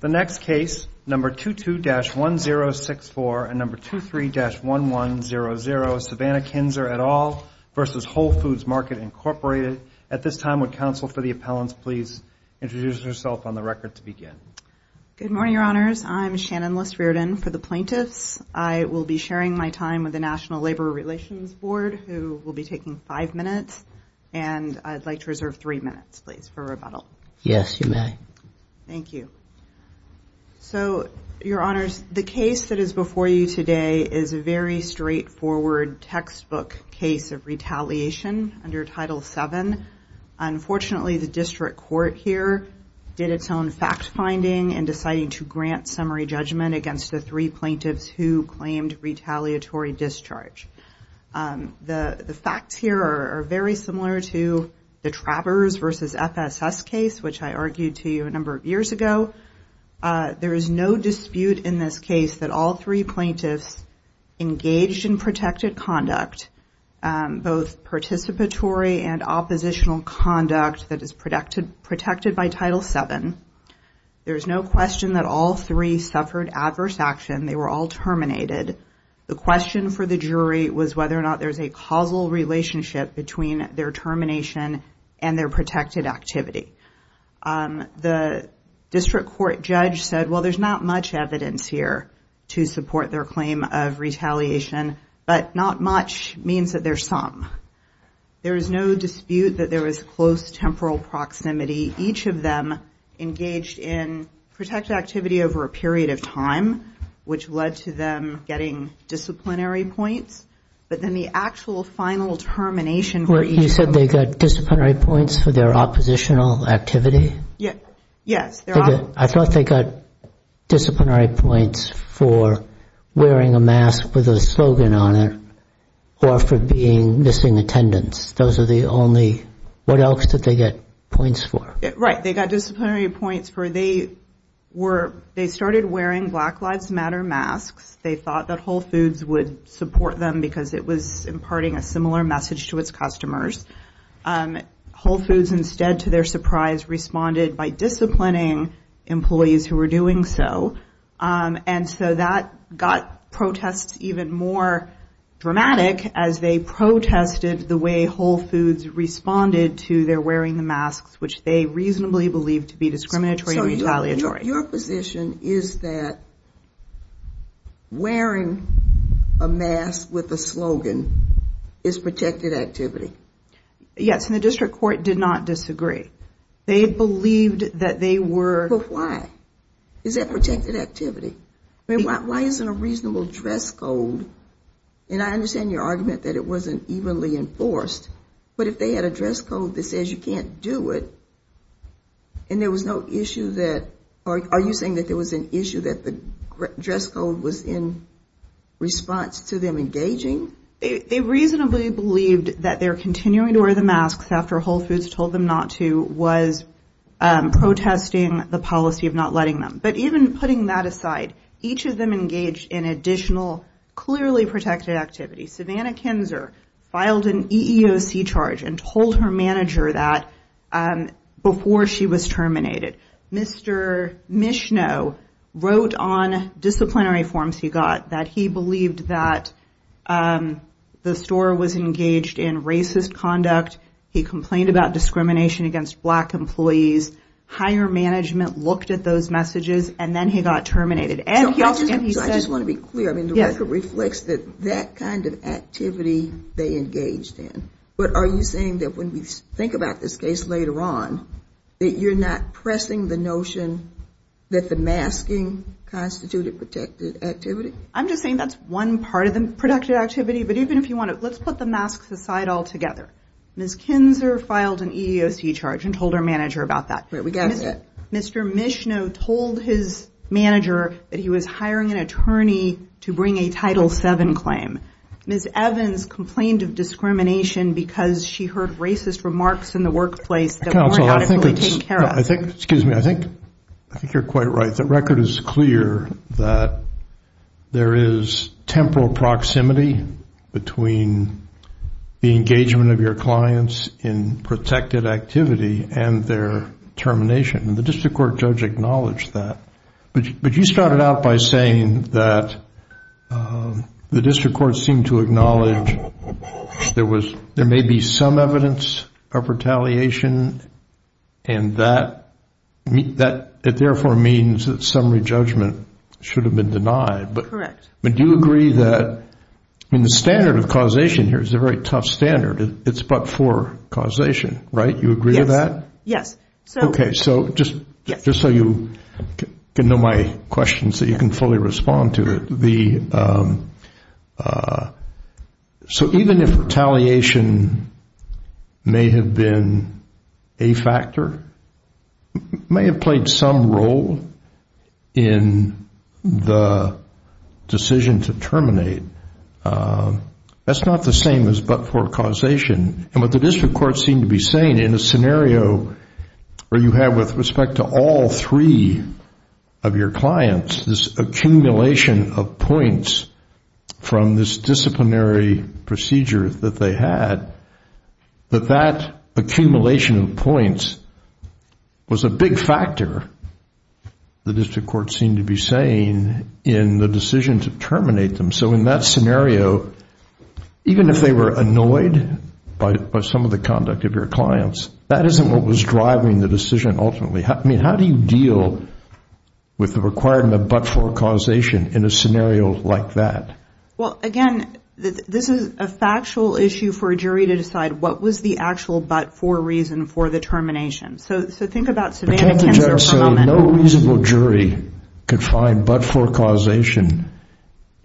The next case, number 22-1064 and number 23-1100, Savannah Kinzer et al. v. Whole Foods Market, Incorporated. At this time, would counsel for the appellants please introduce herself on the record to begin? Good morning, Your Honors. I'm Shannon List Riordan for the plaintiffs. I will be sharing my time with the National Labor Relations Board, who will be taking five minutes. And I'd like to reserve three minutes, please, for rebuttal. Yes, you may. Thank you. So, Your Honors, the case that is before you today is a very straightforward textbook case of retaliation under Title VII. Unfortunately, the district court here did its own fact-finding and decided to grant summary judgment against the three plaintiffs who claimed retaliatory discharge. The facts here are very similar to the Travers v. FSS case, which I argued to you a number of years ago. There is no dispute in this case that all three plaintiffs engaged in protected conduct, both participatory and oppositional conduct that is protected by Title VII. There is no question that all three suffered adverse action. They were all terminated. The question for the jury was whether or not there's a causal relationship between their termination and their protected activity. The district court judge said, well, there's not much evidence here to support their claim of retaliation, but not much means that there's some. There is no dispute that there was close temporal proximity. Each of them engaged in protected activity over a period of time, which led to them getting disciplinary points. But then the actual final termination for each of them. You said they got disciplinary points for their oppositional activity? Yes. I thought they got disciplinary points for wearing a mask with a slogan on it or for being missing attendance. Those are the only, what else did they get points for? Right. They got disciplinary points for they were, they started wearing Black Lives Matter masks. They thought that Whole Foods would support them because it was imparting a similar message to its customers. Whole Foods instead, to their surprise, responded by disciplining employees who were doing so. And so that got protests even more dramatic as they protested the way Whole Foods responded to their wearing the masks, which they reasonably believed to be discriminatory and retaliatory. Your position is that wearing a mask with a slogan is protected activity? Yes. And the district court did not disagree. They believed that they were. Why? Is that protected activity? Why isn't a reasonable dress code, and I understand your argument that it wasn't evenly enforced, but if they had a dress code that says you can't do it and there was no issue that, are you saying that there was an issue that the dress code was in response to them engaging? They reasonably believed that their continuing to wear the masks after Whole Foods told them not to was protesting the policy of not letting them. But even putting that aside, each of them engaged in additional clearly protected activity. Savannah Kinzer filed an EEOC charge and told her manager that before she was terminated. Mr. Michneau wrote on disciplinary forms he got that he believed that the store was engaged in racist conduct. He complained about discrimination against black employees. Higher management looked at those messages and then he got terminated. I just want to be clear. The record reflects that that kind of activity they engaged in. But are you saying that when we think about this case later on, that you're not pressing the notion that the masking constituted protected activity? I'm just saying that's one part of the protected activity. Let's put the masks aside altogether. Ms. Kinzer filed an EEOC charge and told her manager about that. Mr. Michneau told his manager that he was hiring an attorney to bring a Title VII claim. Ms. Evans complained of discrimination because she heard racist remarks in the workplace that weren't actually taken care of. Excuse me. I think you're quite right. The record is clear that there is temporal proximity between the engagement of your clients in protected activity and their termination. The district court judge acknowledged that. But you started out by saying that the district court seemed to acknowledge there may be some evidence of retaliation and that it therefore means that summary judgment should have been denied. Correct. But do you agree that the standard of causation here is a very tough standard. It's but for causation. Right? You agree with that? Yes. Okay. So just so you can know my question so you can fully respond to it. So even if retaliation may have been a factor, may have played some role in the decision to terminate, that's not the same as but for causation. And what the district court seemed to be saying in a scenario where you have with respect to all three of your clients, this accumulation of points from this disciplinary procedure that they had, that that accumulation of points was a big factor, the district court seemed to be saying, in the decision to terminate them. So in that scenario, even if they were annoyed by some of the conduct of your clients, that isn't what was driving the decision ultimately. I mean, how do you deal with the requirement of but for causation in a scenario like that? Well, again, this is a factual issue for a jury to decide what was the actual but for reason for the termination. So think about savanna cancer for a moment. So no reasonable jury could find but for causation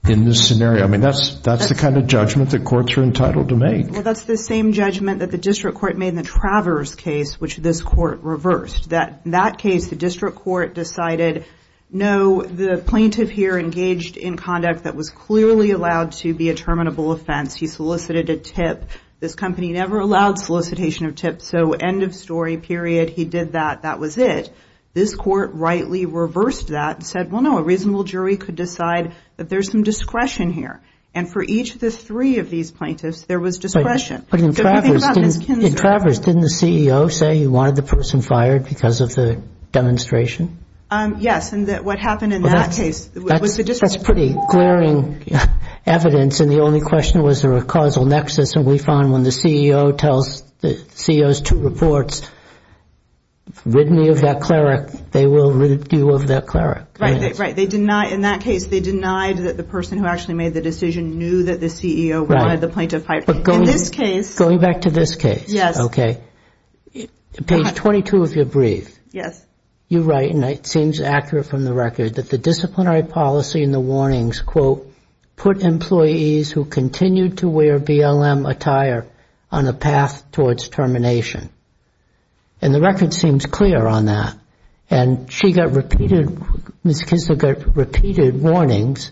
in this scenario? I mean, that's the kind of judgment that courts are entitled to make. Well, that's the same judgment that the district court made in the Travers case, which this court reversed. In that case, the district court decided, no, the plaintiff here engaged in conduct that was clearly allowed to be a terminable offense. He solicited a tip. This company never allowed solicitation of tips. So end of story, period. He did that. That was it. This court rightly reversed that and said, well, no, a reasonable jury could decide that there's some discretion here. And for each of the three of these plaintiffs, there was discretion. But in Travers, didn't the CEO say he wanted the person fired because of the demonstration? Yes. And what happened in that case was the district court. That's pretty glaring evidence. And the only question was there a causal nexus. And we found when the CEO tells the CEO's two reports, rid me of that cleric, they will rid you of that cleric. Right. Right. In that case, they denied that the person who actually made the decision knew that the CEO wanted the plaintiff fired. In this case. Going back to this case. Yes. Okay. Page 22 of your brief. Yes. You're right, and it seems accurate from the record that the disciplinary policy and the warnings, quote, put employees who continued to wear BLM attire on a path towards termination. And the record seems clear on that. And she got repeated, Ms. Kisler got repeated warnings,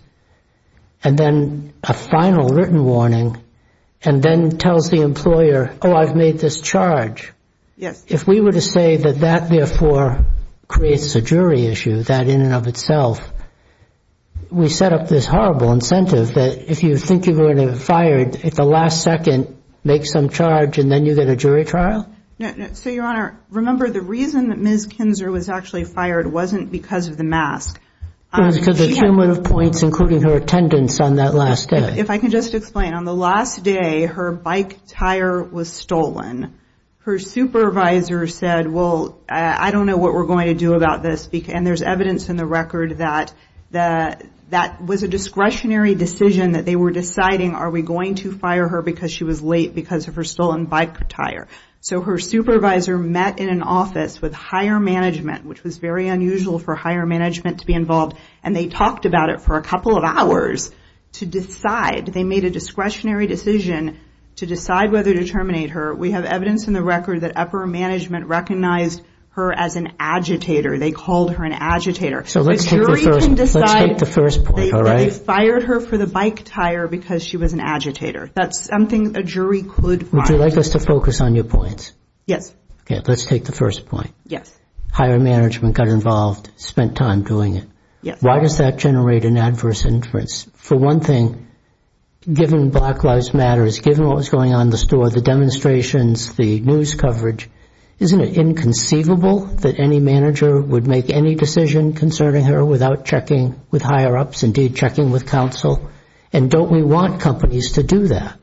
and then a final written warning, and then tells the employer, oh, I've made this charge. Yes. If we were to say that that, therefore, creates a jury issue, that in and of itself, we set up this horrible incentive that if you think you're going to get fired, at the last second, make some charge, and then you get a jury trial? So, Your Honor, remember the reason that Ms. Kinzer was actually fired wasn't because of the mask. It was because of cumulative points, including her attendance on that last day. If I can just explain. On the last day, her bike tire was stolen. Her supervisor said, well, I don't know what we're going to do about this, and there's evidence in the record that that was a discretionary decision that they were deciding, are we going to fire her because she was late because of her stolen bike tire? So her supervisor met in an office with hire management, which was very unusual for hire management to be involved, and they talked about it for a couple of hours to decide. They made a discretionary decision to decide whether to terminate her. We have evidence in the record that upper management recognized her as an agitator. They called her an agitator. So let's take the first point, all right? They fired her for the bike tire because she was an agitator. That's something a jury could find. Would you like us to focus on your points? Yes. Okay, let's take the first point. Yes. Hire management got involved, spent time doing it. Why does that generate an adverse inference? For one thing, given Black Lives Matter, given what was going on in the store, the demonstrations, the news coverage, isn't it inconceivable that any manager would make any decision concerning her without checking with higher-ups, indeed checking with counsel? And don't we want companies to do that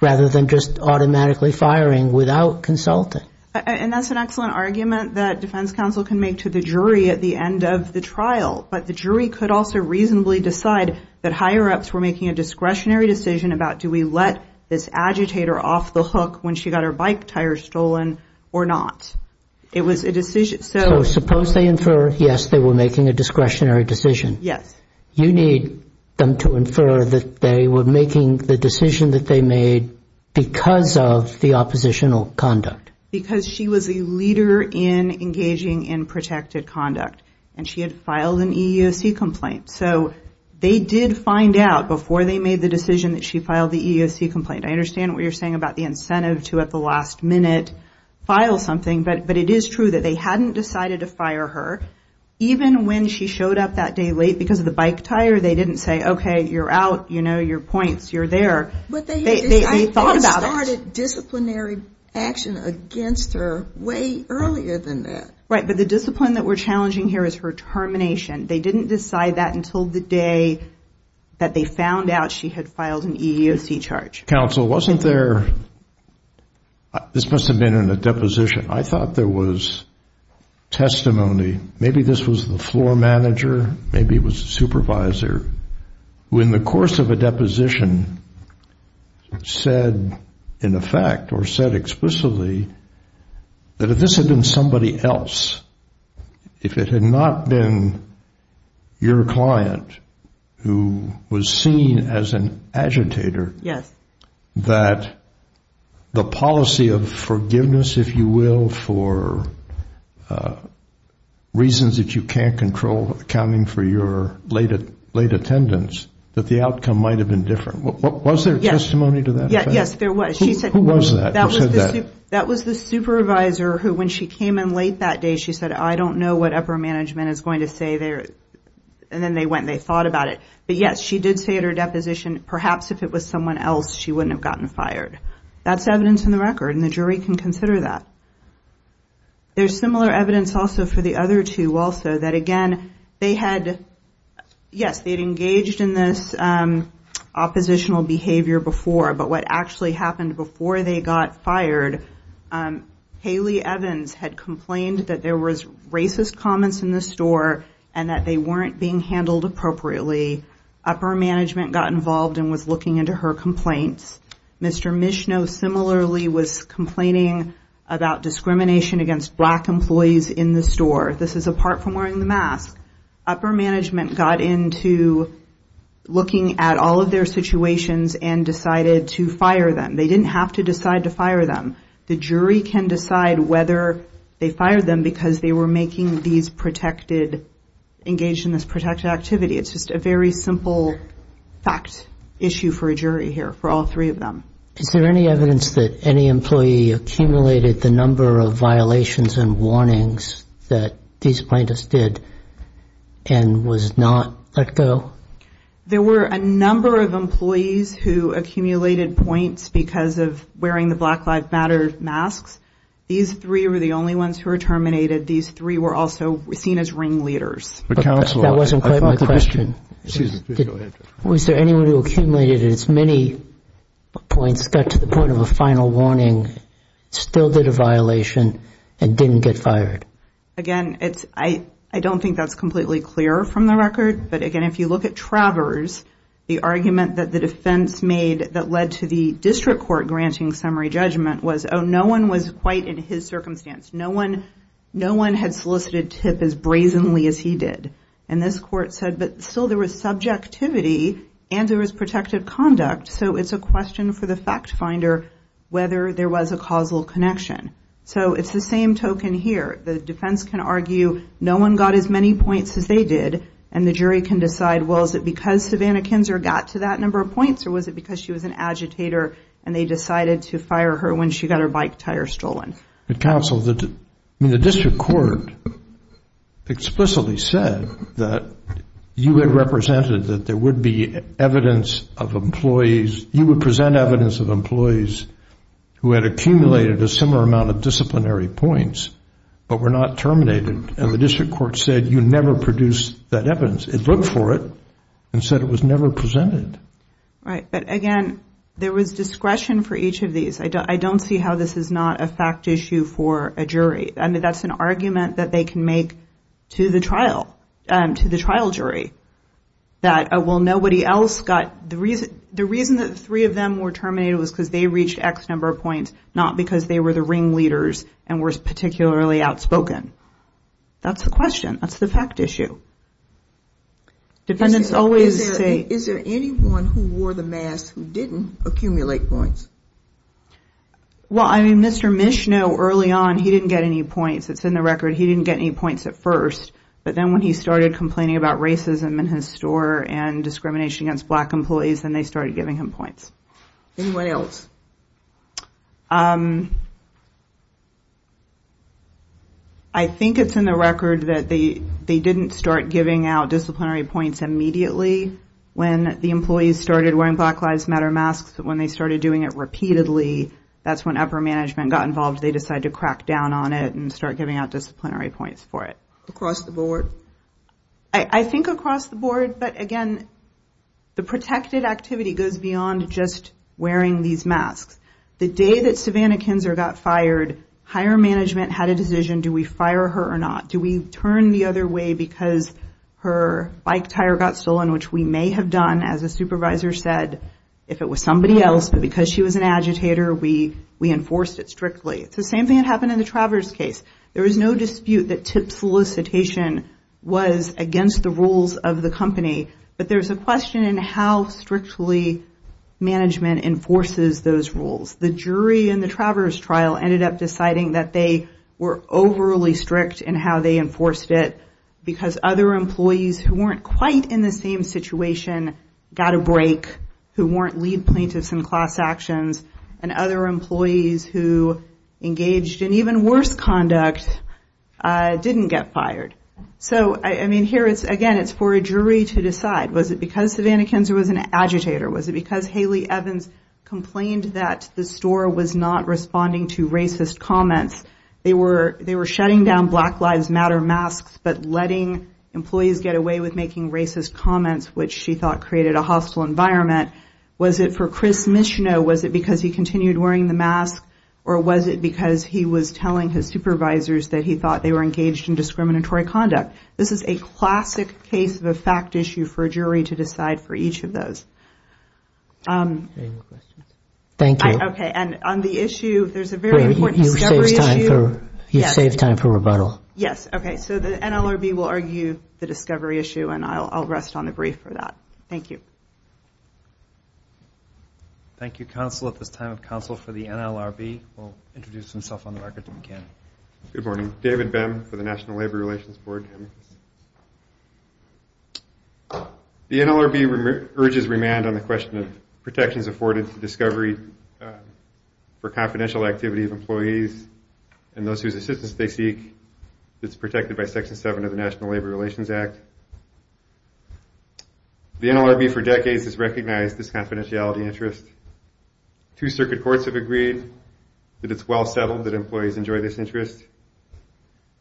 rather than just automatically firing without consulting? And that's an excellent argument that defense counsel can make to the jury at the end of the trial, but the jury could also reasonably decide that higher-ups were making a discretionary decision about do we let this agitator off the hook when she got her bike tire stolen or not. It was a decision. So suppose they infer, yes, they were making a discretionary decision. Yes. You need them to infer that they were making the decision that they made because of the oppositional conduct. Because she was a leader in engaging in protected conduct and she had filed an EEOC complaint. So they did find out before they made the decision that she filed the EEOC complaint. I understand what you're saying about the incentive to at the last minute file something, but it is true that they hadn't decided to fire her. Even when she showed up that day late because of the bike tire, they didn't say, okay, you're out. You know your points. You're there. They thought about it. But they started disciplinary action against her way earlier than that. Right, but the discipline that we're challenging here is her termination. They didn't decide that until the day that they found out she had filed an EEOC charge. Counsel, wasn't there, this must have been in a deposition, I thought there was testimony, maybe this was the floor manager, maybe it was the supervisor, who in the course of a deposition said in effect or said explicitly that if this had been somebody else, if it had not been your client who was seen as an agitator, that the policy of forgiveness, if you will, for reasons that you can't control accounting for your late attendance, that the outcome might have been different. Was there testimony to that? Yes, there was. Who was that? That was the supervisor who when she came in late that day she said, I don't know what upper management is going to say there. And then they went and they thought about it. But, yes, she did say at her deposition, perhaps if it was someone else, she wouldn't have gotten fired. That's evidence in the record, and the jury can consider that. There's similar evidence also for the other two also that, again, they had, yes, they had engaged in this oppositional behavior before, but what actually happened before they got fired, Haley Evans had complained that there was racist comments in the store and that they weren't being handled appropriately. Upper management got involved and was looking into her complaints. Mr. Mishno similarly was complaining about discrimination against black employees in the store. This is apart from wearing the mask. Upper management got into looking at all of their situations and decided to fire them. They didn't have to decide to fire them. The jury can decide whether they fired them because they were making these protected, engaged in this protected activity. It's just a very simple fact issue for a jury here for all three of them. Is there any evidence that any employee accumulated the number of violations and warnings that these plaintiffs did and was not let go? There were a number of employees who accumulated points because of wearing the Black Lives Matter masks. These three were the only ones who were terminated. These three were also seen as ringleaders. That wasn't quite my question. Was there anyone who accumulated as many points got to the point of a final warning, still did a violation, and didn't get fired? Again, I don't think that's completely clear from the record, but, again, if you look at Travers, the argument that the defense made that led to the district court granting summary judgment was, oh, no one was quite in his circumstance. No one had solicited TIP as brazenly as he did. And this court said, but still there was subjectivity and there was protected conduct, so it's a question for the fact finder whether there was a causal connection. So it's the same token here. The defense can argue no one got as many points as they did, and the jury can decide, well, is it because Savannah Kinzer got to that number of points or was it because she was an agitator and they decided to fire her when she got her bike tire stolen? Counsel, the district court explicitly said that you had represented that there would be evidence of employees, you would present evidence of employees who had accumulated a similar amount of disciplinary points but were not terminated. And the district court said you never produced that evidence. It looked for it and said it was never presented. Right. But, again, there was discretion for each of these. I don't see how this is not a fact issue for a jury. I mean, that's an argument that they can make to the trial jury that, well, nobody else got the reason that three of them were terminated was because they reached X number of points, not because they were the ringleaders and were particularly outspoken. That's the question. That's the fact issue. Dependents always say. Is there anyone who wore the mask who didn't accumulate points? Well, I mean, Mr. Michneau, early on, he didn't get any points. It's in the record. He didn't get any points at first. But then when he started complaining about racism in his store and discrimination against black employees, then they started giving him points. Anyone else? I think it's in the record that they didn't start giving out disciplinary points immediately when the employees started wearing Black Lives Matter masks. When they started doing it repeatedly, that's when upper management got involved. They decided to crack down on it and start giving out disciplinary points for it. Across the board? I think across the board. The day that Savannah Kinzer got fired, higher management had a decision, do we fire her or not? Do we turn the other way because her bike tire got stolen, which we may have done, as the supervisor said, if it was somebody else, but because she was an agitator, we enforced it strictly. It's the same thing that happened in the Travers case. There was no dispute that tip solicitation was against the rules of the company. But there's a question in how strictly management enforces those rules. The jury in the Travers trial ended up deciding that they were overly strict in how they enforced it because other employees who weren't quite in the same situation got a break, who weren't lead plaintiffs in class actions, and other employees who engaged in even worse conduct didn't get fired. So, I mean, here, again, it's for a jury to decide. Was it because Savannah Kinzer was an agitator? Was it because Haley Evans complained that the store was not responding to racist comments? They were shutting down Black Lives Matter masks, but letting employees get away with making racist comments, which she thought created a hostile environment. Was it for Chris Micheno? Was it because he continued wearing the mask? Or was it because he was telling his supervisors that he thought they were engaged in discriminatory conduct? This is a classic case of a fact issue for a jury to decide for each of those. Any more questions? Thank you. Okay, and on the issue, there's a very important discovery issue. You saved time for rebuttal. Yes, okay, so the NLRB will argue the discovery issue, and I'll rest on the brief for that. Thank you. Thank you, counsel, at this time of counsel for the NLRB. We'll introduce himself on the record if we can. Good morning. David Bem for the National Labor Relations Board. The NLRB urges remand on the question of protections afforded to discovery for confidential activity of employees and those whose assistance they seek. It's protected by Section 7 of the National Labor Relations Act. The NLRB for decades has recognized this confidentiality interest. Two circuit courts have agreed that it's well settled that employees enjoy this interest,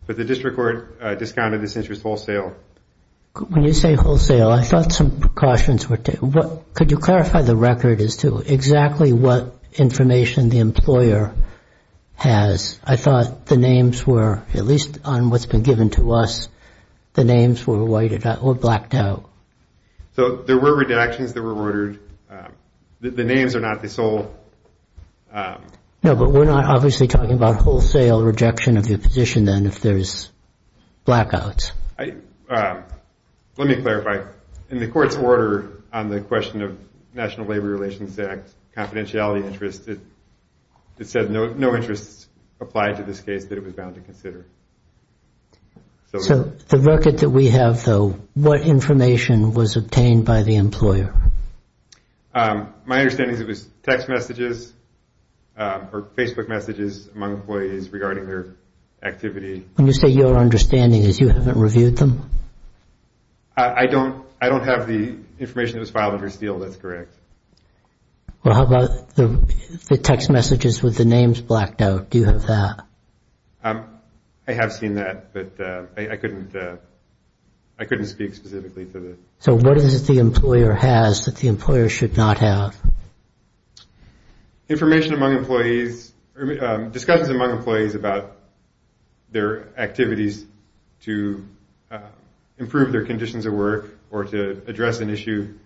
but the district court discounted this interest wholesale. When you say wholesale, I thought some precautions were taken. Could you clarify the record as to exactly what information the employer has? I thought the names were, at least on what's been given to us, the names were whited out or blacked out. So there were redactions that were ordered. The names are not the sole. No, but we're not obviously talking about wholesale rejection of your position, then, if there's blackouts. Let me clarify. In the court's order on the question of National Labor Relations Act confidentiality interest, it said no interest applied to this case that it was bound to consider. So the record that we have, though, what information was obtained by the employer? My understanding is it was text messages or Facebook messages among employees regarding their activity. And you say your understanding is you haven't reviewed them? I don't have the information that was filed under steel that's correct. Well, how about the text messages with the names blacked out? Do you have that? I have seen that, but I couldn't speak specifically to that. So what is it the employer has that the employer should not have? Information among employees, discussions among employees about their activities to improve their conditions at work or to address an issue,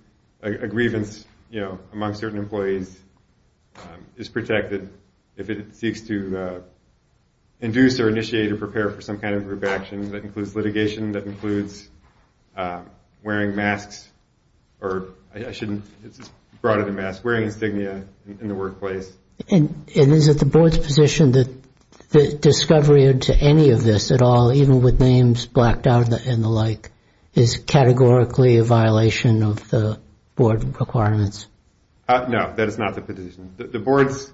a grievance among certain employees is protected if it seeks to induce or initiate or prepare for some kind of group action that includes litigation, that includes wearing masks, or I shouldn't have brought in a mask, wearing insignia in the workplace. And is it the board's position that the discovery to any of this at all, even with names blacked out and the like, is categorically a violation of the board requirements? No, that is not the position. The board's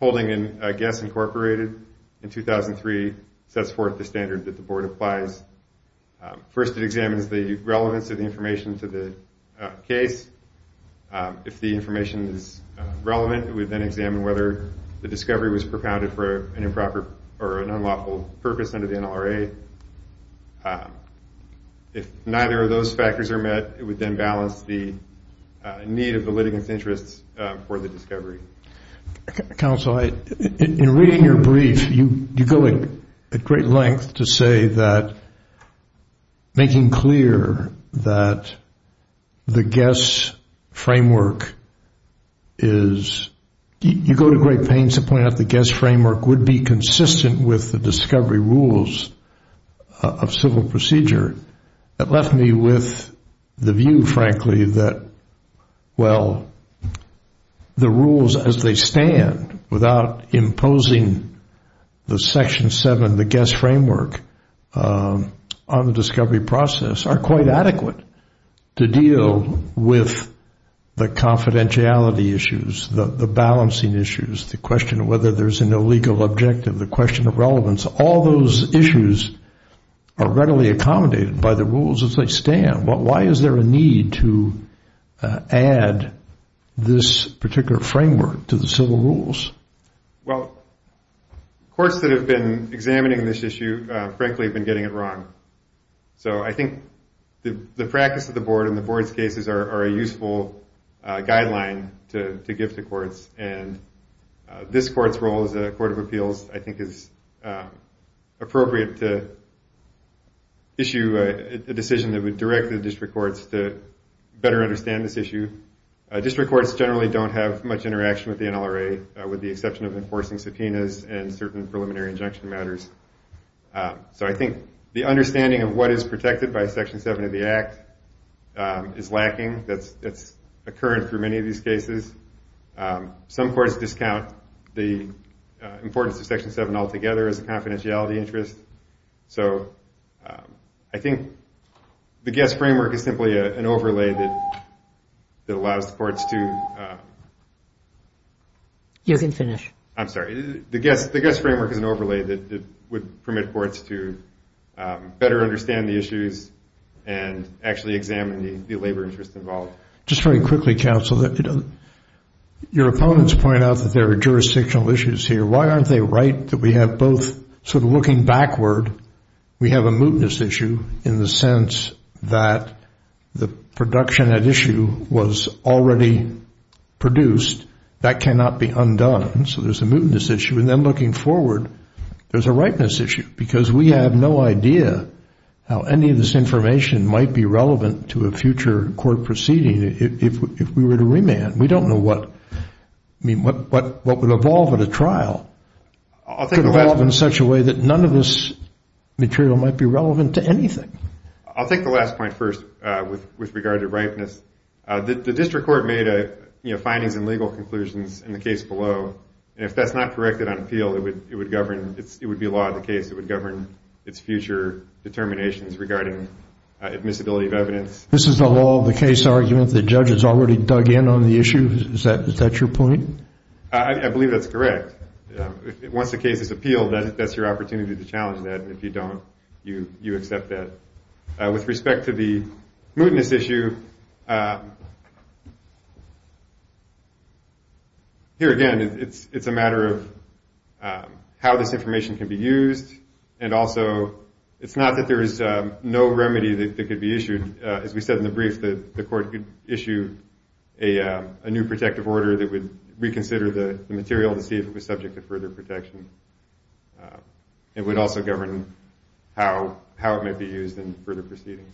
holding in Guess Incorporated in 2003 sets forth the standard that the board applies. First it examines the relevance of the information to the case. If the information is relevant, it would then examine whether the discovery was propounded for an improper or an unlawful purpose under the NLRA. If neither of those factors are met, it would then balance the need of the litigants' interests for the discovery. Counsel, in reading your brief, you go at great length to say that making clear that the Guess framework is, you go to great pains to point out the Guess framework would be consistent with the discovery rules of civil procedure. That left me with the view, frankly, that, well, the rules as they stand without imposing the Section 7, the Guess framework on the discovery process, are quite adequate to deal with the confidentiality issues, the balancing issues, the question of whether there's a no legal objective, the question of relevance. All those issues are readily accommodated by the rules as they stand. Why is there a need to add this particular framework to the civil rules? Well, courts that have been examining this issue, frankly, have been getting it wrong. So I think the practice of the board and the board's cases are a useful guideline to give to courts, and this court's role as a court of appeals, I think, is appropriate to issue a decision that would direct the district courts to better understand this issue. District courts generally don't have much interaction with the NLRA, with the exception of enforcing subpoenas and certain preliminary injunction matters. So I think the understanding of what is protected by Section 7 of the Act is lacking. That's a current for many of these cases. Some courts discount the importance of Section 7 altogether as a confidentiality interest. So I think the guest framework is simply an overlay that allows the courts to... You can finish. I'm sorry. The guest framework is an overlay that would permit courts to better understand the issues and actually examine the labor interests involved. Just very quickly, counsel, your opponents point out that there are jurisdictional issues here. Why aren't they right that we have both sort of looking backward? We have a mootness issue in the sense that the production at issue was already produced. That cannot be undone. So there's a mootness issue. And then looking forward, there's a ripeness issue because we have no idea how any of this information might be relevant to a future court proceeding if we were to remand. We don't know what would evolve at a trial. It could evolve in such a way that none of this material might be relevant to anything. I'll take the last point first with regard to ripeness. The district court made findings and legal conclusions in the case below, and if that's not corrected on appeal, it would govern. It would be a law of the case. It would govern its future determinations regarding admissibility of evidence. This is a law of the case argument. The judge has already dug in on the issue. Is that your point? I believe that's correct. Once the case is appealed, that's your opportunity to challenge that, and if you don't, you accept that. With respect to the mootness issue, here again, it's a matter of how this information can be used, and also it's not that there is no remedy that could be issued. As we said in the brief, the court could issue a new protective order that would reconsider the material to see if it was subject to further protection. It would also govern how it might be used in further proceedings.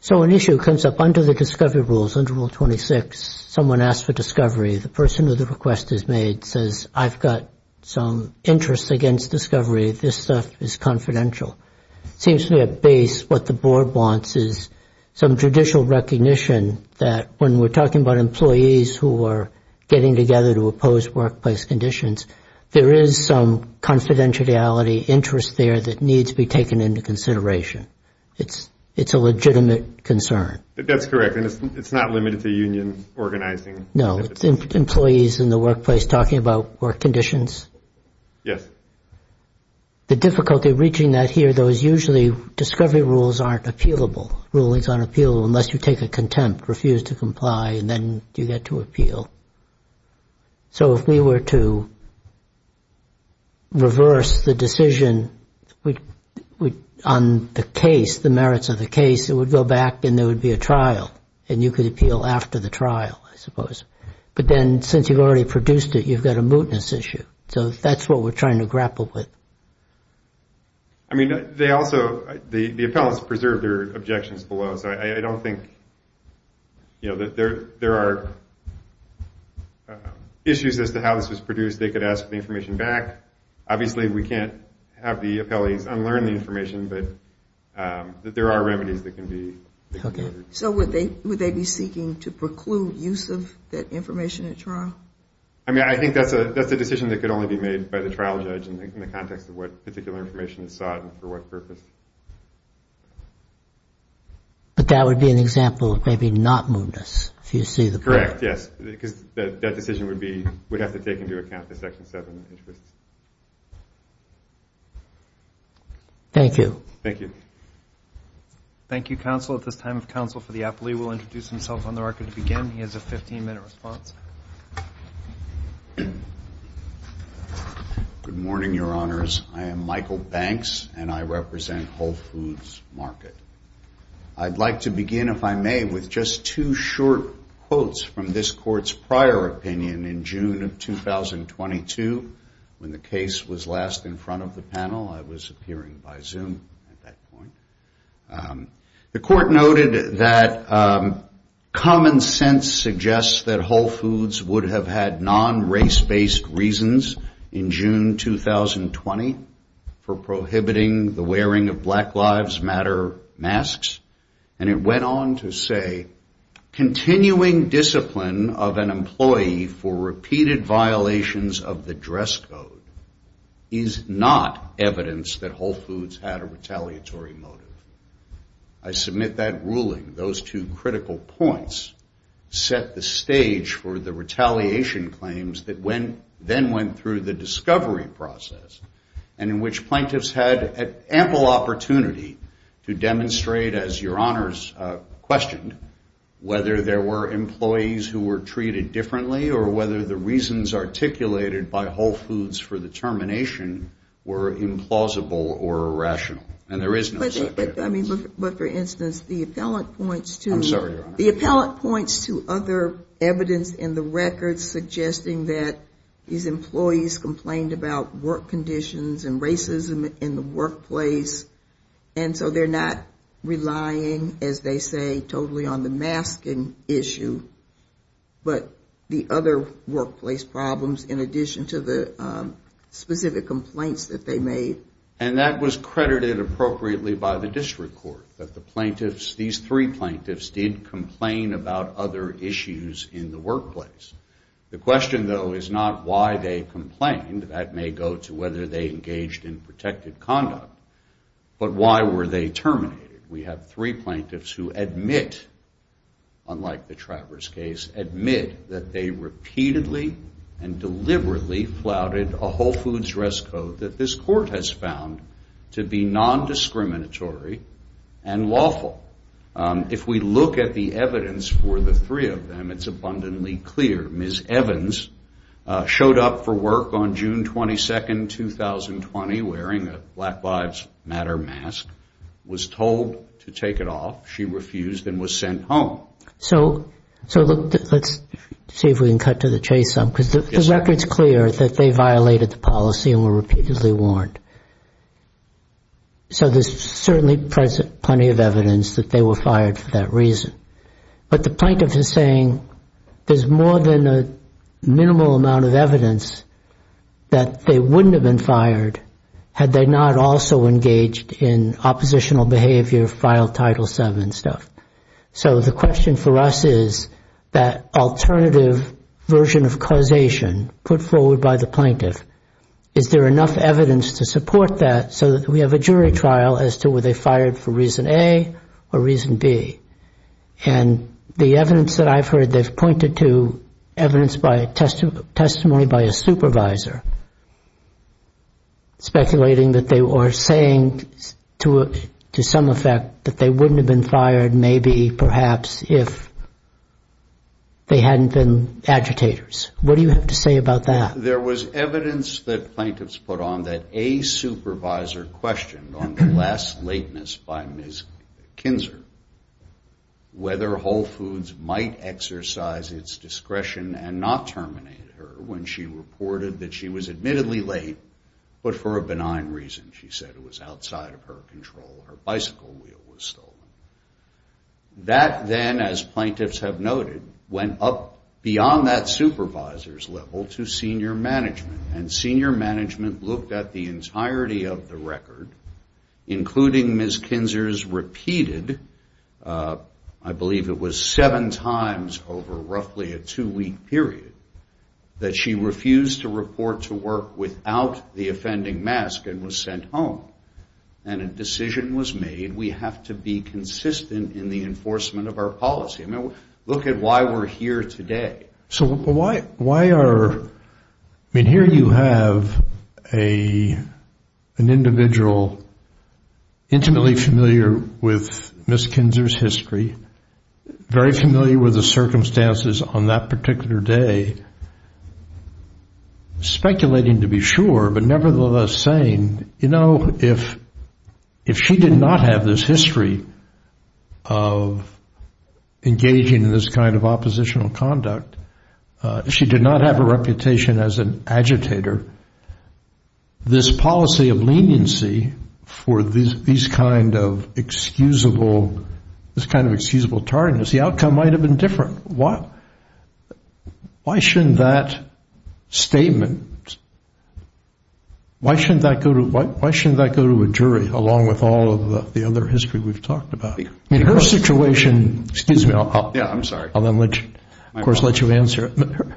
So an issue comes up under the discovery rules, under Rule 26. Someone asks for discovery. The person who the request is made says, I've got some interest against discovery. This stuff is confidential. It seems to me at base what the board wants is some judicial recognition that when we're talking about employees who are getting together to oppose workplace conditions, there is some confidentiality interest there that needs to be taken into consideration. It's a legitimate concern. That's correct, and it's not limited to union organizing. No, it's employees in the workplace talking about work conditions. Yes. The difficulty of reaching that here, though, is usually discovery rules aren't appealable. Rules aren't appealable unless you take a contempt, refuse to comply, and then you get to appeal. So if we were to reverse the decision on the case, the merits of the case, it would go back and there would be a trial, and you could appeal after the trial, I suppose. But then since you've already produced it, you've got a mootness issue. So that's what we're trying to grapple with. I mean, they also, the appellants preserved their objections below, so I don't think that there are issues as to how this was produced. They could ask the information back. Obviously, we can't have the appellants unlearn the information, but there are remedies that can be hooked in. So would they be seeking to preclude use of that information at trial? I mean, I think that's a decision that could only be made by the trial judge in the context of what particular information is sought and for what purpose. But that would be an example of maybe not mootness, if you see the point. Correct, yes, because that decision would have to take into account the Section 7 interests. Thank you. Thank you. Thank you, counsel. At this time, counsel for the appellee will introduce himself on the record to begin. He has a 15-minute response. Good morning, Your Honors. I am Michael Banks, and I represent Whole Foods Market. I'd like to begin, if I may, with just two short quotes from this Court's prior opinion in June of 2022 when the case was last in front of the panel. I was appearing by Zoom at that point. The Court noted that common sense suggests that Whole Foods would have had non-race-based reasons in June 2020 for prohibiting the wearing of Black Lives Matter masks, and it went on to say, continuing discipline of an employee for repeated violations of the dress code is not evidence that Whole Foods had a retaliatory motive. I submit that ruling, those two critical points, set the stage for the retaliation claims that then went through the discovery process and in which plaintiffs had ample opportunity to demonstrate, as Your Honors questioned, whether there were employees who were treated differently or whether the reasons articulated by Whole Foods for the termination were implausible or irrational. And there is no such evidence. But, for instance, the appellant points to other evidence in the record suggesting that these employees complained about work conditions and racism in the workplace, and so they're not relying, as they say, totally on the masking issue, but the other workplace problems in addition to the specific complaints that they made. And that was credited appropriately by the District Court, that the plaintiffs, these three plaintiffs, did complain about other issues in the workplace. The question, though, is not why they complained. That may go to whether they engaged in protected conduct. But why were they terminated? We have three plaintiffs who admit, unlike the Travers case, admit that they repeatedly and deliberately flouted a Whole Foods dress code that this court has found to be nondiscriminatory and lawful. If we look at the evidence for the three of them, it's abundantly clear. Ms. Evans showed up for work on June 22, 2020, wearing a Black Lives Matter mask, was told to take it off. She refused and was sent home. So let's see if we can cut to the chase some, because the record's clear that they violated the policy and were repeatedly warned. So there's certainly plenty of evidence that they were fired for that reason. But the plaintiff is saying there's more than a minimal amount of evidence that they wouldn't have been fired had they not also engaged in oppositional behavior, filed Title VII and stuff. So the question for us is that alternative version of causation put forward by the plaintiff, is there enough evidence to support that so that we have a jury trial as to whether they fired for reason A or reason B? And the evidence that I've heard they've pointed to, evidence by testimony by a supervisor speculating that they were saying to some effect that they wouldn't have been fired maybe perhaps if they hadn't been agitators. What do you have to say about that? There was evidence that plaintiffs put on that a supervisor questioned on the last lateness by Ms. Kinzer whether Whole Foods might exercise its discretion and not terminate her when she reported that she was admittedly late, but for a benign reason. She said it was outside of her control. Her bicycle wheel was stolen. That then, as plaintiffs have noted, went up beyond that supervisor's level to senior management, and senior management looked at the entirety of the record, including Ms. Kinzer's repeated, I believe it was seven times over roughly a two-week period, that she refused to report to work without the offending mask and was sent home. And a decision was made, we have to be consistent in the enforcement of our policy. I mean, look at why we're here today. So why are, I mean, here you have an individual intimately familiar with Ms. Kinzer's history, very familiar with the circumstances on that particular day, speculating to be sure, but nevertheless saying, you know, if she did not have this history of engaging in this kind of oppositional conduct, if she did not have a reputation as an agitator, this policy of leniency for these kind of excusable tardiness, the outcome might have been different. Why shouldn't that statement, why shouldn't that go to a jury, along with all of the other history we've talked about? I mean, her situation, excuse me. Yeah, I'm sorry. I'll then let you, of course, let you answer.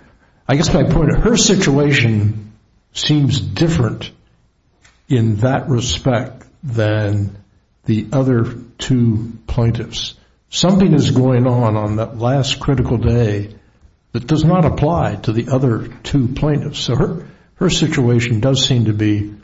I guess my point, her situation seems different in that respect than the other two plaintiffs. Something is going on on that last critical day that does not apply to the other two plaintiffs. So her situation does seem to be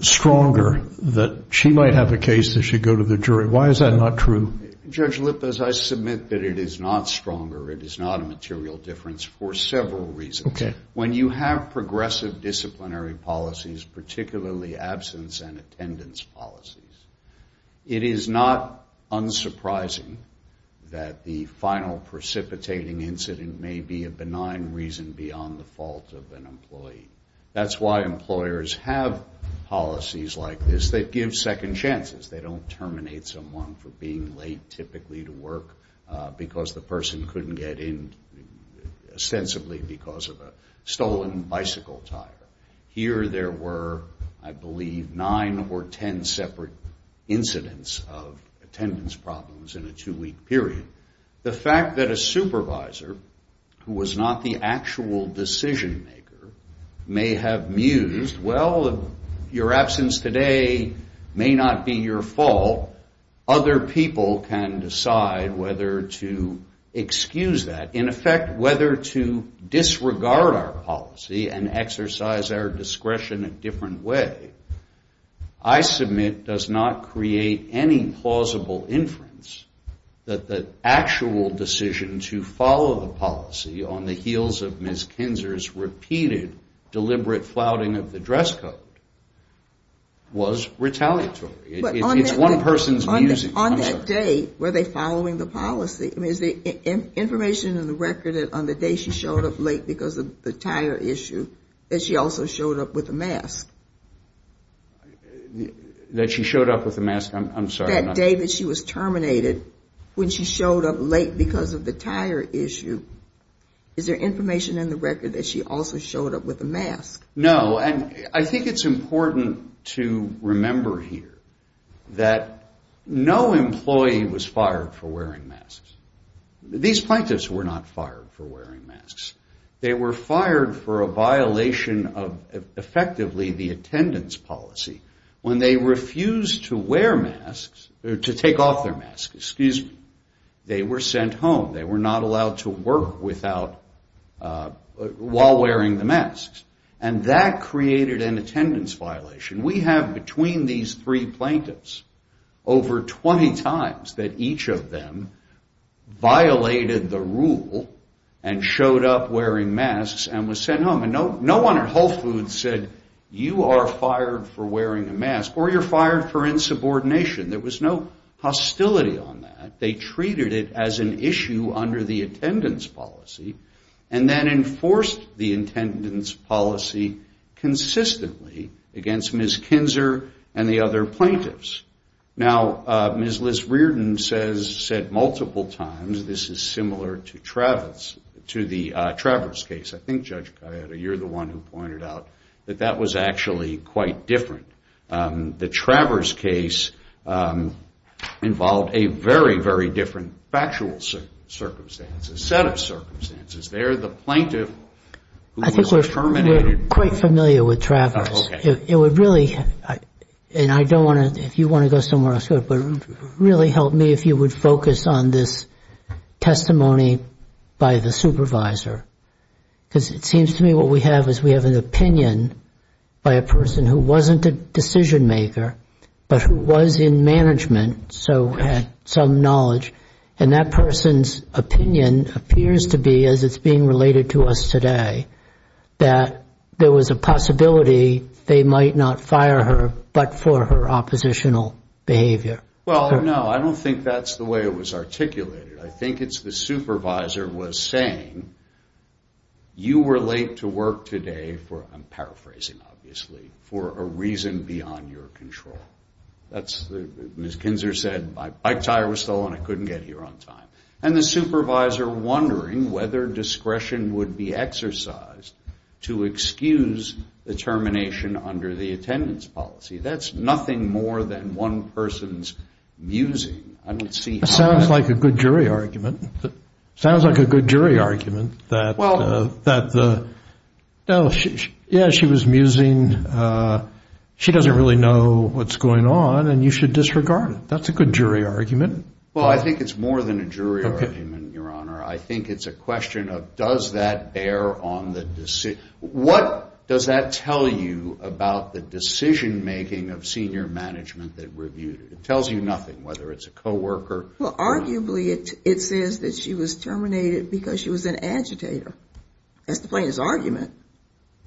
stronger that she might have a case that should go to the jury. Why is that not true? Judge Lippas, I submit that it is not stronger. It is not a material difference for several reasons. When you have progressive disciplinary policies, particularly absence and attendance policies, it is not unsurprising that the final precipitating incident may be a benign reason beyond the fault of an employee. That's why employers have policies like this that give second chances. They don't terminate someone for being late, typically to work, because the person couldn't get in ostensibly because of a stolen bicycle tire. Here there were, I believe, nine or ten separate incidents of attendance problems in a two-week period. The fact that a supervisor, who was not the actual decision-maker, may have mused, well, your absence today may not be your fault. Other people can decide whether to excuse that. In effect, whether to disregard our policy and exercise our discretion in a different way, I submit does not create any plausible inference that the actual decision to follow the policy on the heels of Ms. Kinzer's repeated deliberate flouting of the dress code was retaliatory. It's one person's musing. On that day, were they following the policy? Is the information in the record that on the day she showed up late because of the tire issue, that she also showed up with a mask? That she showed up with a mask? I'm sorry. That day that she was terminated, when she showed up late because of the tire issue, is there information in the record that she also showed up with a mask? No, and I think it's important to remember here that no employee was fired for wearing masks. These plaintiffs were not fired for wearing masks. They were fired for a violation of, effectively, the attendance policy. When they refused to take off their masks, they were sent home. They were not allowed to work while wearing the masks. And that created an attendance violation. We have, between these three plaintiffs, over 20 times that each of them violated the rule and showed up wearing masks and was sent home. And no one at Whole Foods said, you are fired for wearing a mask, or you're fired for insubordination. There was no hostility on that. They treated it as an issue under the attendance policy and then enforced the attendance policy consistently against Ms. Kinzer and the other plaintiffs. Now, Ms. Liz Reardon said multiple times, this is similar to the Travers case. I think, Judge Gallardo, you're the one who pointed out that that was actually quite different. The Travers case involved a very, very different factual circumstances, set of circumstances. They're the plaintiff who was terminated. I think we're quite familiar with Travers. It would really, and I don't want to, if you want to go somewhere else, but it would really help me if you would focus on this testimony by the supervisor. Because it seems to me what we have is we have an opinion by a person who wasn't a decision maker, but who was in management, so had some knowledge. And that person's opinion appears to be, as it's being related to us today, that there was a possibility they might not fire her but for her oppositional behavior. Well, no, I don't think that's the way it was articulated. I think it's the supervisor was saying you were late to work today for, I'm paraphrasing, obviously, for a reason beyond your control. Ms. Kinzer said my bike tire was stolen. I couldn't get here on time. And the supervisor wondering whether discretion would be exercised to excuse the termination under the attendance policy. That's nothing more than one person's musing. That sounds like a good jury argument. That sounds like a good jury argument that, yeah, she was musing. She doesn't really know what's going on, and you should disregard it. That's a good jury argument. Well, I think it's more than a jury argument, Your Honor. I think it's a question of does that bear on the decision? What does that tell you about the decision making of senior management that reviewed it? It tells you nothing, whether it's a coworker. Well, arguably it says that she was terminated because she was an agitator. That's the plaintiff's argument.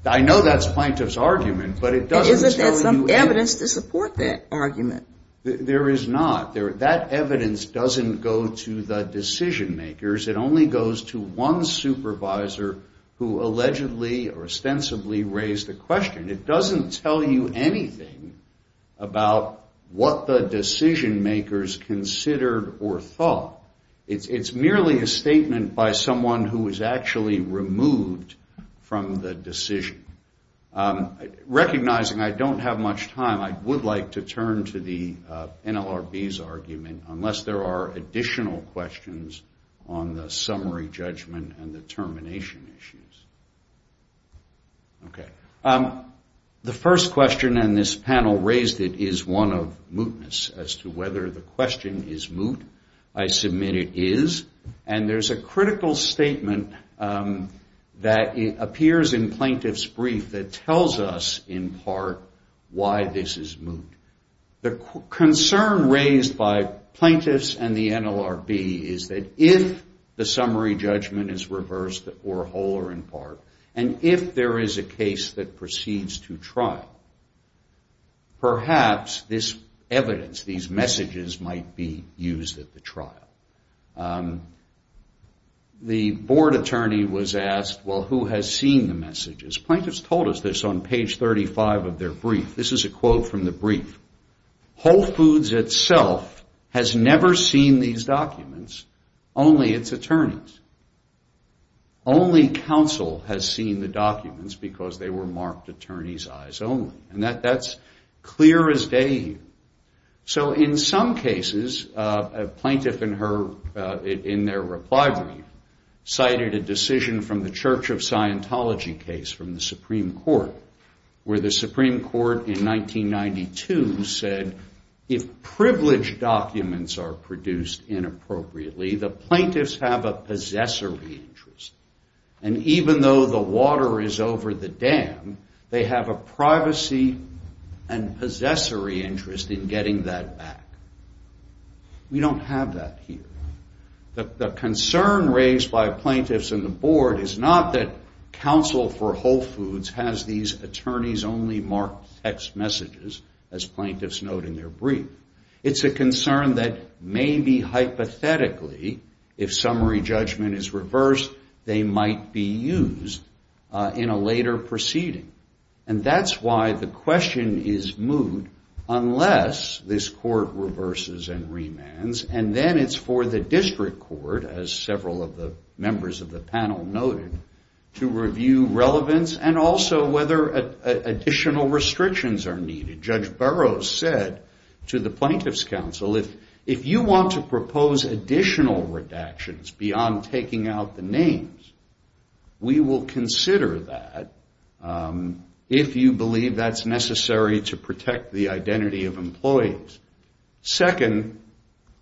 I know that's the plaintiff's argument, but it doesn't tell you anything. Isn't there some evidence to support that argument? There is not. That evidence doesn't go to the decision makers. It only goes to one supervisor who allegedly or ostensibly raised the question. It doesn't tell you anything about what the decision makers considered or thought. It's merely a statement by someone who was actually removed from the decision. Recognizing I don't have much time, I would like to turn to the NLRB's argument, unless there are additional questions on the summary judgment and the termination issues. Okay. The first question, and this panel raised it, is one of mootness as to whether the question is moot. I submit it is. And there's a critical statement that appears in plaintiff's brief that tells us, in part, why this is moot. The concern raised by plaintiffs and the NLRB is that if the summary judgment is reversed or whole or in part, and if there is a case that proceeds to trial, perhaps this evidence, these messages, might be used at the trial. The board attorney was asked, well, who has seen the messages? Plaintiffs told us this on page 35 of their brief. This is a quote from the brief. Whole Foods itself has never seen these documents, only its attorneys. Only counsel has seen the documents because they were marked attorney's eyes only. And that's clear as day. So in some cases, a plaintiff in their reply brief cited a decision from the Church of Scientology case from the Supreme Court, where the Supreme Court in 1992 said, if privileged documents are produced inappropriately, the plaintiffs have a possessory interest. And even though the water is over the dam, they have a privacy and possessory interest in getting that back. We don't have that here. The concern raised by plaintiffs and the board is not that counsel for Whole Foods has these attorneys-only marked text messages, as plaintiffs note in their brief. It's a concern that maybe hypothetically, if summary judgment is reversed, they might be used in a later proceeding. And that's why the question is moot unless this court reverses and remands, and then it's for the district court, as several of the members of the panel noted, to review relevance and also whether additional restrictions are needed. Judge Burroughs said to the plaintiffs' counsel, if you want to propose additional redactions beyond taking out the names, we will consider that if you believe that's necessary to protect the identity of employees. Second,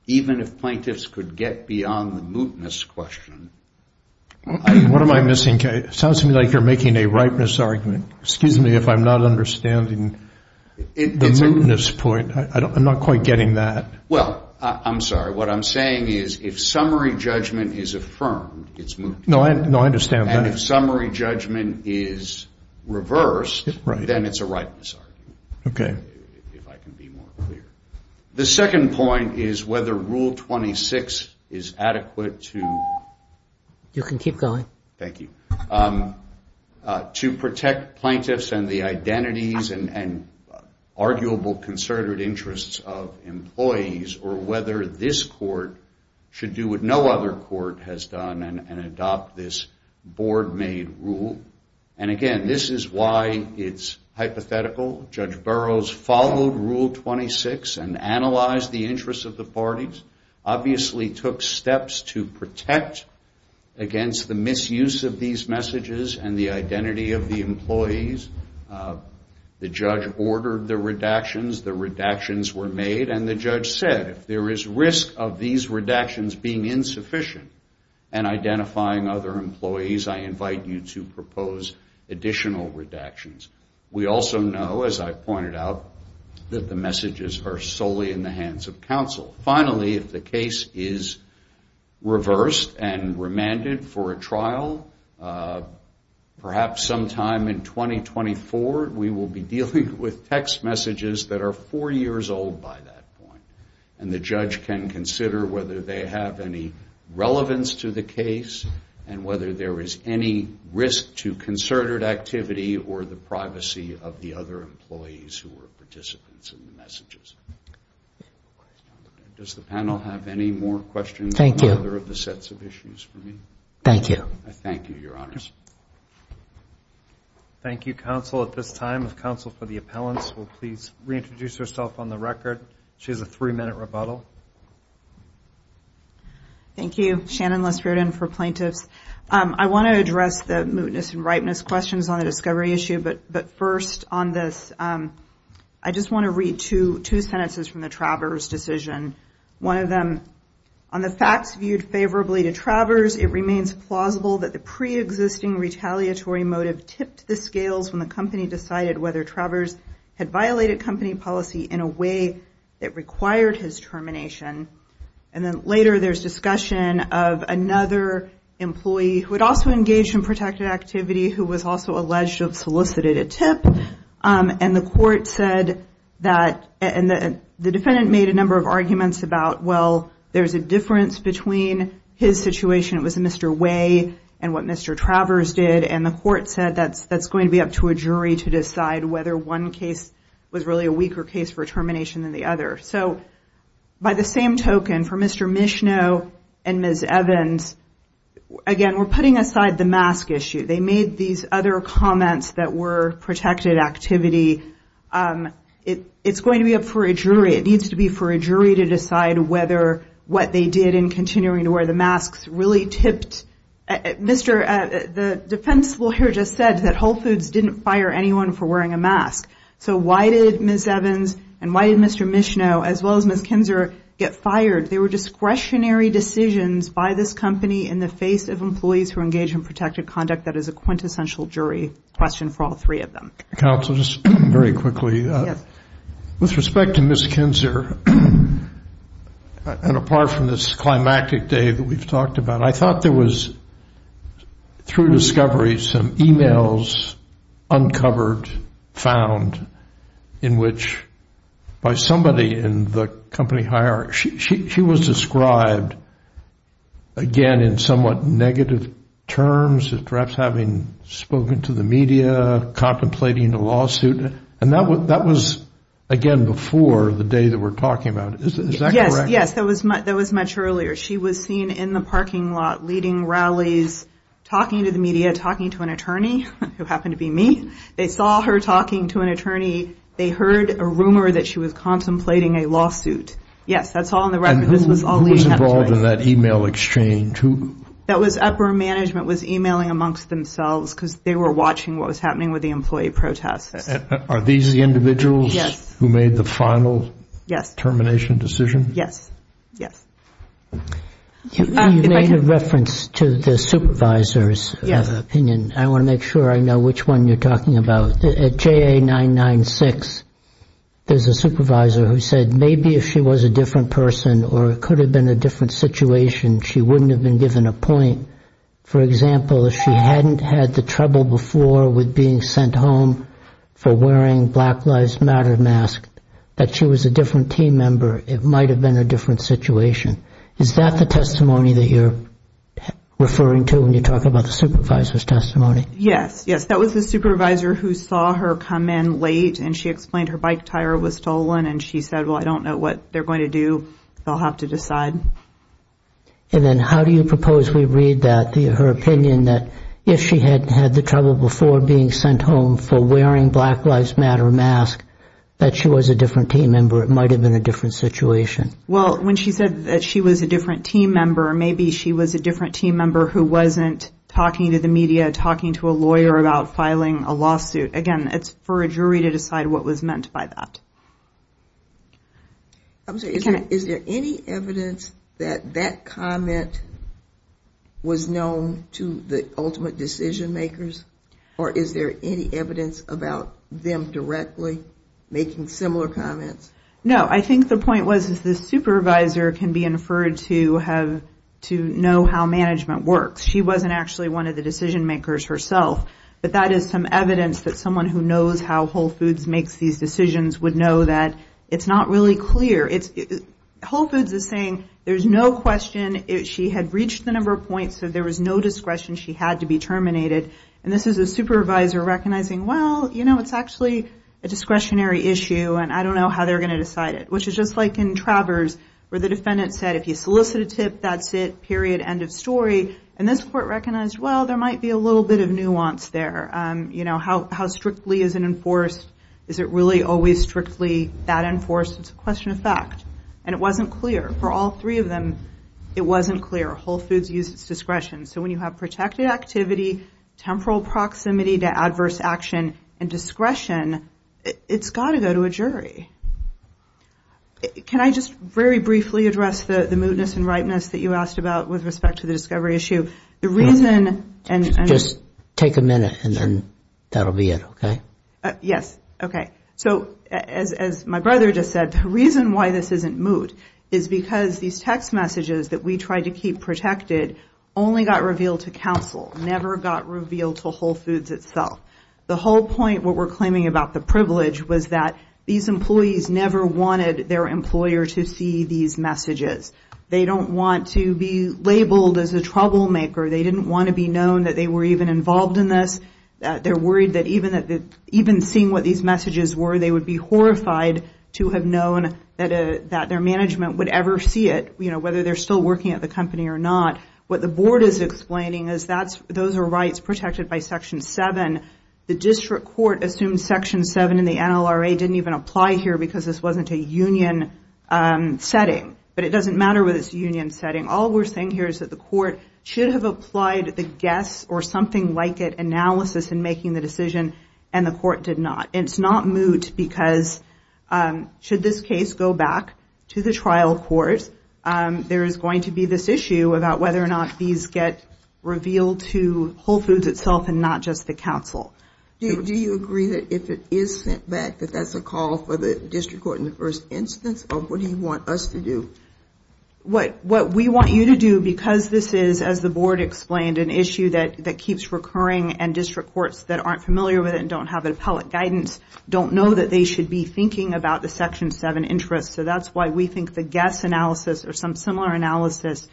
even if plaintiffs could get beyond the mootness question. What am I missing? It sounds to me like you're making a ripeness argument. Excuse me if I'm not understanding the mootness point. I'm not quite getting that. Well, I'm sorry. What I'm saying is if summary judgment is affirmed, it's moot. No, I understand. And if summary judgment is reversed, then it's a ripeness argument, if I can be more clear. The second point is whether Rule 26 is adequate to protect plaintiffs and the identities and arguable concerted interests of employees, or whether this court should do what no other court has done and adopt this board-made rule. And again, this is why it's hypothetical. Judge Burroughs followed Rule 26 and analyzed the interests of the parties, obviously took steps to protect against the misuse of these messages and the identity of the employees. The judge ordered the redactions. The redactions were made, and the judge said, if there is risk of these redactions being insufficient in identifying other employees, I invite you to propose additional redactions. We also know, as I pointed out, that the messages are solely in the hands of counsel. Finally, if the case is reversed and remanded for a trial, perhaps sometime in 2024, we will be dealing with text messages that are four years old by that point. And the judge can consider whether they have any relevance to the case and whether there is any risk to concerted activity or the privacy of the other employees who were participants in the messages. Does the panel have any more questions on any other of the sets of issues for me? Thank you. I thank you, Your Honors. Thank you, counsel, at this time. If counsel for the appellants will please reintroduce herself on the record. She has a three-minute rebuttal. Thank you. Shannon Lesperdin for plaintiffs. I want to address the mootness and ripeness questions on the discovery issue, but first on this, I just want to read two sentences from the Travers decision. One of them, on the facts viewed favorably to Travers, it remains plausible that the preexisting retaliatory motive tipped the scales when the company decided whether Travers had violated company policy in a way that required his termination. And then later there's discussion of another employee who had also engaged in protected activity who was also alleged to have solicited a tip, and the court said that the defendant made a number of arguments about, well, there's a difference between his situation, it was Mr. Way, and what Mr. Travers did, and the court said that's going to be up to a jury to decide whether one case was really a weaker case for termination than the other. So by the same token, for Mr. Michneau and Ms. Evans, again, we're putting aside the mask issue. They made these other comments that were protected activity. It's going to be up for a jury. It needs to be for a jury to decide whether what they did in continuing to wear the masks really tipped. The defense lawyer just said that Whole Foods didn't fire anyone for wearing a mask. So why did Ms. Evans and why did Mr. Michneau, as well as Ms. Kinzer, get fired? They were discretionary decisions by this company in the face of employees who engage in protected conduct. That is a quintessential jury question for all three of them. Counsel, just very quickly. Yes. With respect to Ms. Kinzer, and apart from this climactic day that we've talked about, I thought there was, through discovery, some e-mails uncovered, found, in which by somebody in the company hierarchy, she was described, again, in somewhat negative terms, perhaps having spoken to the media, contemplating a lawsuit. And that was, again, before the day that we're talking about. Is that correct? Yes. That was much earlier. She was seen in the parking lot leading rallies, talking to the media, talking to an attorney, who happened to be me. They saw her talking to an attorney. They heard a rumor that she was contemplating a lawsuit. Yes, that's all on the record. This was all leading up to it. And who was involved in that e-mail exchange? That was upper management was e-mailing amongst themselves because they were watching what was happening with the employee protests. Are these the individuals who made the final termination decision? Yes. Yes. You made a reference to the supervisor's opinion. I want to make sure I know which one you're talking about. At JA996, there's a supervisor who said maybe if she was a different person or it could have been a different situation, she wouldn't have been given a point. For example, if she hadn't had the trouble before with being sent home for wearing Black Lives Matter masks, that she was a different team member, it might have been a different situation. Is that the testimony that you're referring to when you talk about the supervisor's testimony? Yes. Yes, that was the supervisor who saw her come in late, and she explained her bike tire was stolen, and she said, well, I don't know what they're going to do. They'll have to decide. And then how do you propose we read that, her opinion, that if she hadn't had the trouble before being sent home for wearing Black Lives Matter masks, that she was a different team member, it might have been a different situation? Well, when she said that she was a different team member, maybe she was a different team member who wasn't talking to the media, talking to a lawyer about filing a lawsuit. Again, it's for a jury to decide what was meant by that. Is there any evidence that that comment was known to the ultimate decision makers, or is there any evidence about them directly making similar comments? No, I think the point was that the supervisor can be inferred to know how management works. She wasn't actually one of the decision makers herself, but that is some evidence that someone who knows how Whole Foods makes these decisions would know that it's not really clear. Whole Foods is saying there's no question. She had reached the number of points, so there was no discretion. She had to be terminated, and this is a supervisor recognizing, well, you know, it's actually a discretionary issue, and I don't know how they're going to decide it, which is just like in Travers where the defendant said, if you solicit a tip, that's it, period, end of story. And this court recognized, well, there might be a little bit of nuance there. How strictly is it enforced? Is it really always strictly that enforced? It's a question of fact. And it wasn't clear. For all three of them, it wasn't clear. Whole Foods used its discretion. So when you have protected activity, temporal proximity to adverse action, and discretion, it's got to go to a jury. Can I just very briefly address the mootness and ripeness that you asked about with respect to the discovery issue? Just take a minute, and then that will be it, okay? Yes. Okay. So as my brother just said, the reason why this isn't moot is because these text messages that we tried to keep protected only got revealed to counsel, never got revealed to Whole Foods itself. The whole point, what we're claiming about the privilege, was that these employees never wanted their employer to see these messages. They don't want to be labeled as a troublemaker. They didn't want to be known that they were even involved in this. They're worried that even seeing what these messages were, they would be horrified to have known that their management would ever see it, whether they're still working at the company or not. What the board is explaining is those are rights protected by Section 7. The district court assumes Section 7 in the NLRA didn't even apply here because this wasn't a union setting. But it doesn't matter whether it's a union setting. All we're saying here is that the court should have applied the guess or something like it analysis in making the decision, and the court did not. It's not moot because should this case go back to the trial court, there is going to be this issue about whether or not these get revealed to Whole Foods itself and not just the counsel. Do you agree that if it is sent back that that's a call for the district court in the first instance, or what do you want us to do? What we want you to do because this is, as the board explained, an issue that keeps recurring and district courts that aren't familiar with it and don't have appellate guidance don't know that they should be thinking about the Section 7 interest. So that's why we think the guess analysis or some similar analysis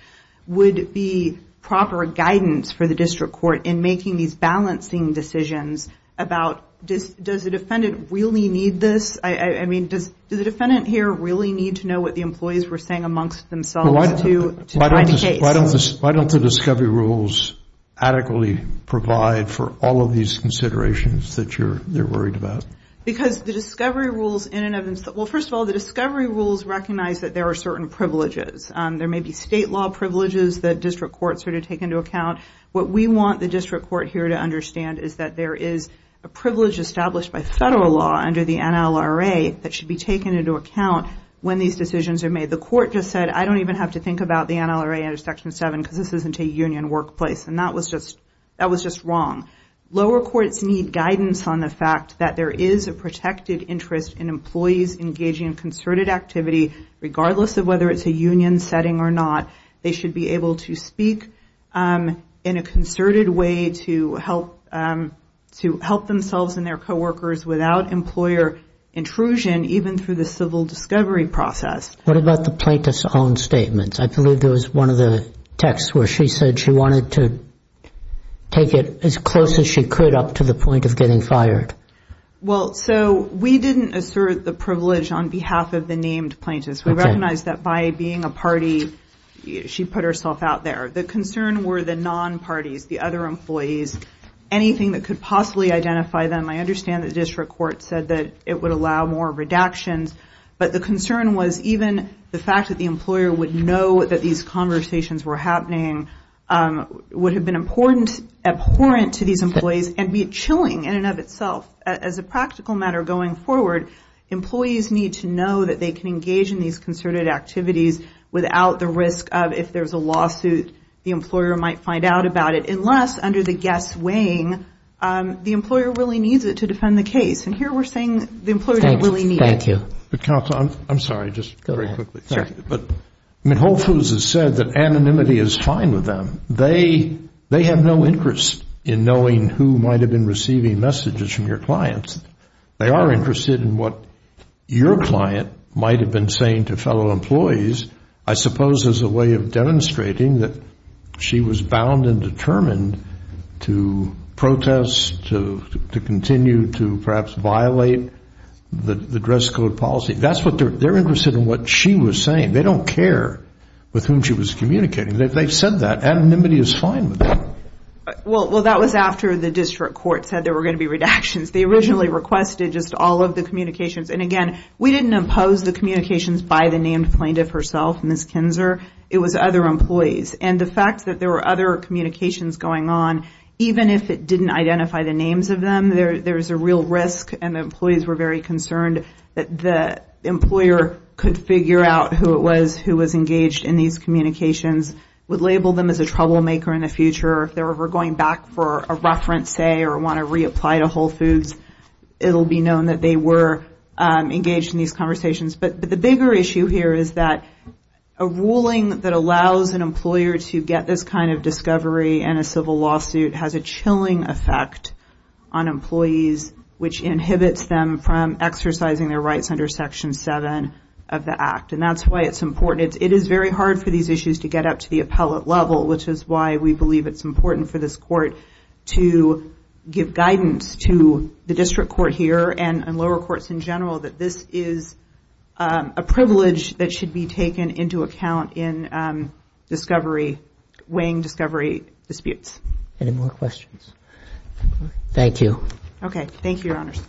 would be proper guidance for the district court in making these balancing decisions about does the defendant really need this? I mean, does the defendant here really need to know what the employees were saying amongst themselves to find a case? Why don't the discovery rules adequately provide for all of these considerations that they're worried about? Because the discovery rules in and of themselves, well, first of all, the discovery rules recognize that there are certain privileges. There may be state law privileges that district courts sort of take into account. by federal law under the NLRA that should be taken into account when these decisions are made. The court just said, I don't even have to think about the NLRA under Section 7 because this isn't a union workplace, and that was just wrong. Lower courts need guidance on the fact that there is a protected interest in employees engaging in concerted activity regardless of whether it's a union setting or not. They should be able to speak in a concerted way to help themselves and their co-workers without employer intrusion, even through the civil discovery process. What about the plaintiff's own statements? I believe there was one of the texts where she said she wanted to take it as close as she could up to the point of getting fired. Well, so we didn't assert the privilege on behalf of the named plaintiffs. We recognize that by being a party, she put herself out there. The concern were the non-parties, the other employees, anything that could possibly identify them. I understand the district court said that it would allow more redactions, but the concern was even the fact that the employer would know that these conversations were happening would have been abhorrent to these employees and be chilling in and of itself. As a practical matter going forward, employees need to know that they can engage in these concerted activities without the risk of if there's a lawsuit, the employer might find out about it, unless under the guess weighing, the employer really needs it to defend the case. And here we're saying the employer didn't really need it. Thank you. Counsel, I'm sorry, just very quickly. But Whole Foods has said that anonymity is fine with them. They have no interest in knowing who might have been receiving messages from your clients. They are interested in what your client might have been saying to fellow employees, I suppose as a way of demonstrating that she was bound and determined to protest, to continue to perhaps violate the dress code policy. They're interested in what she was saying. They don't care with whom she was communicating. They've said that. Anonymity is fine with them. Well, that was after the district court said there were going to be redactions. They originally requested just all of the communications. And, again, we didn't impose the communications by the named plaintiff herself, Ms. Kinzer. It was other employees. And the fact that there were other communications going on, even if it didn't identify the names of them, there's a real risk, and the employees were very concerned that the employer could figure out who it was who was engaged in these communications, would label them as a troublemaker in the future. If they were going back for a reference, say, or want to reapply to Whole Foods, it will be known that they were engaged in these conversations. But the bigger issue here is that a ruling that allows an employer to get this kind of discovery in a civil lawsuit has a chilling effect on employees, which inhibits them from exercising their rights under Section 7 of the Act. And that's why it's important. It is very hard for these issues to get up to the appellate level, which is why we believe it's important for this court to give guidance to the district court here and lower courts in general that this is a privilege that should be taken into account in weighing discovery disputes. Any more questions? Thank you. Okay. Thank you, Your Honors.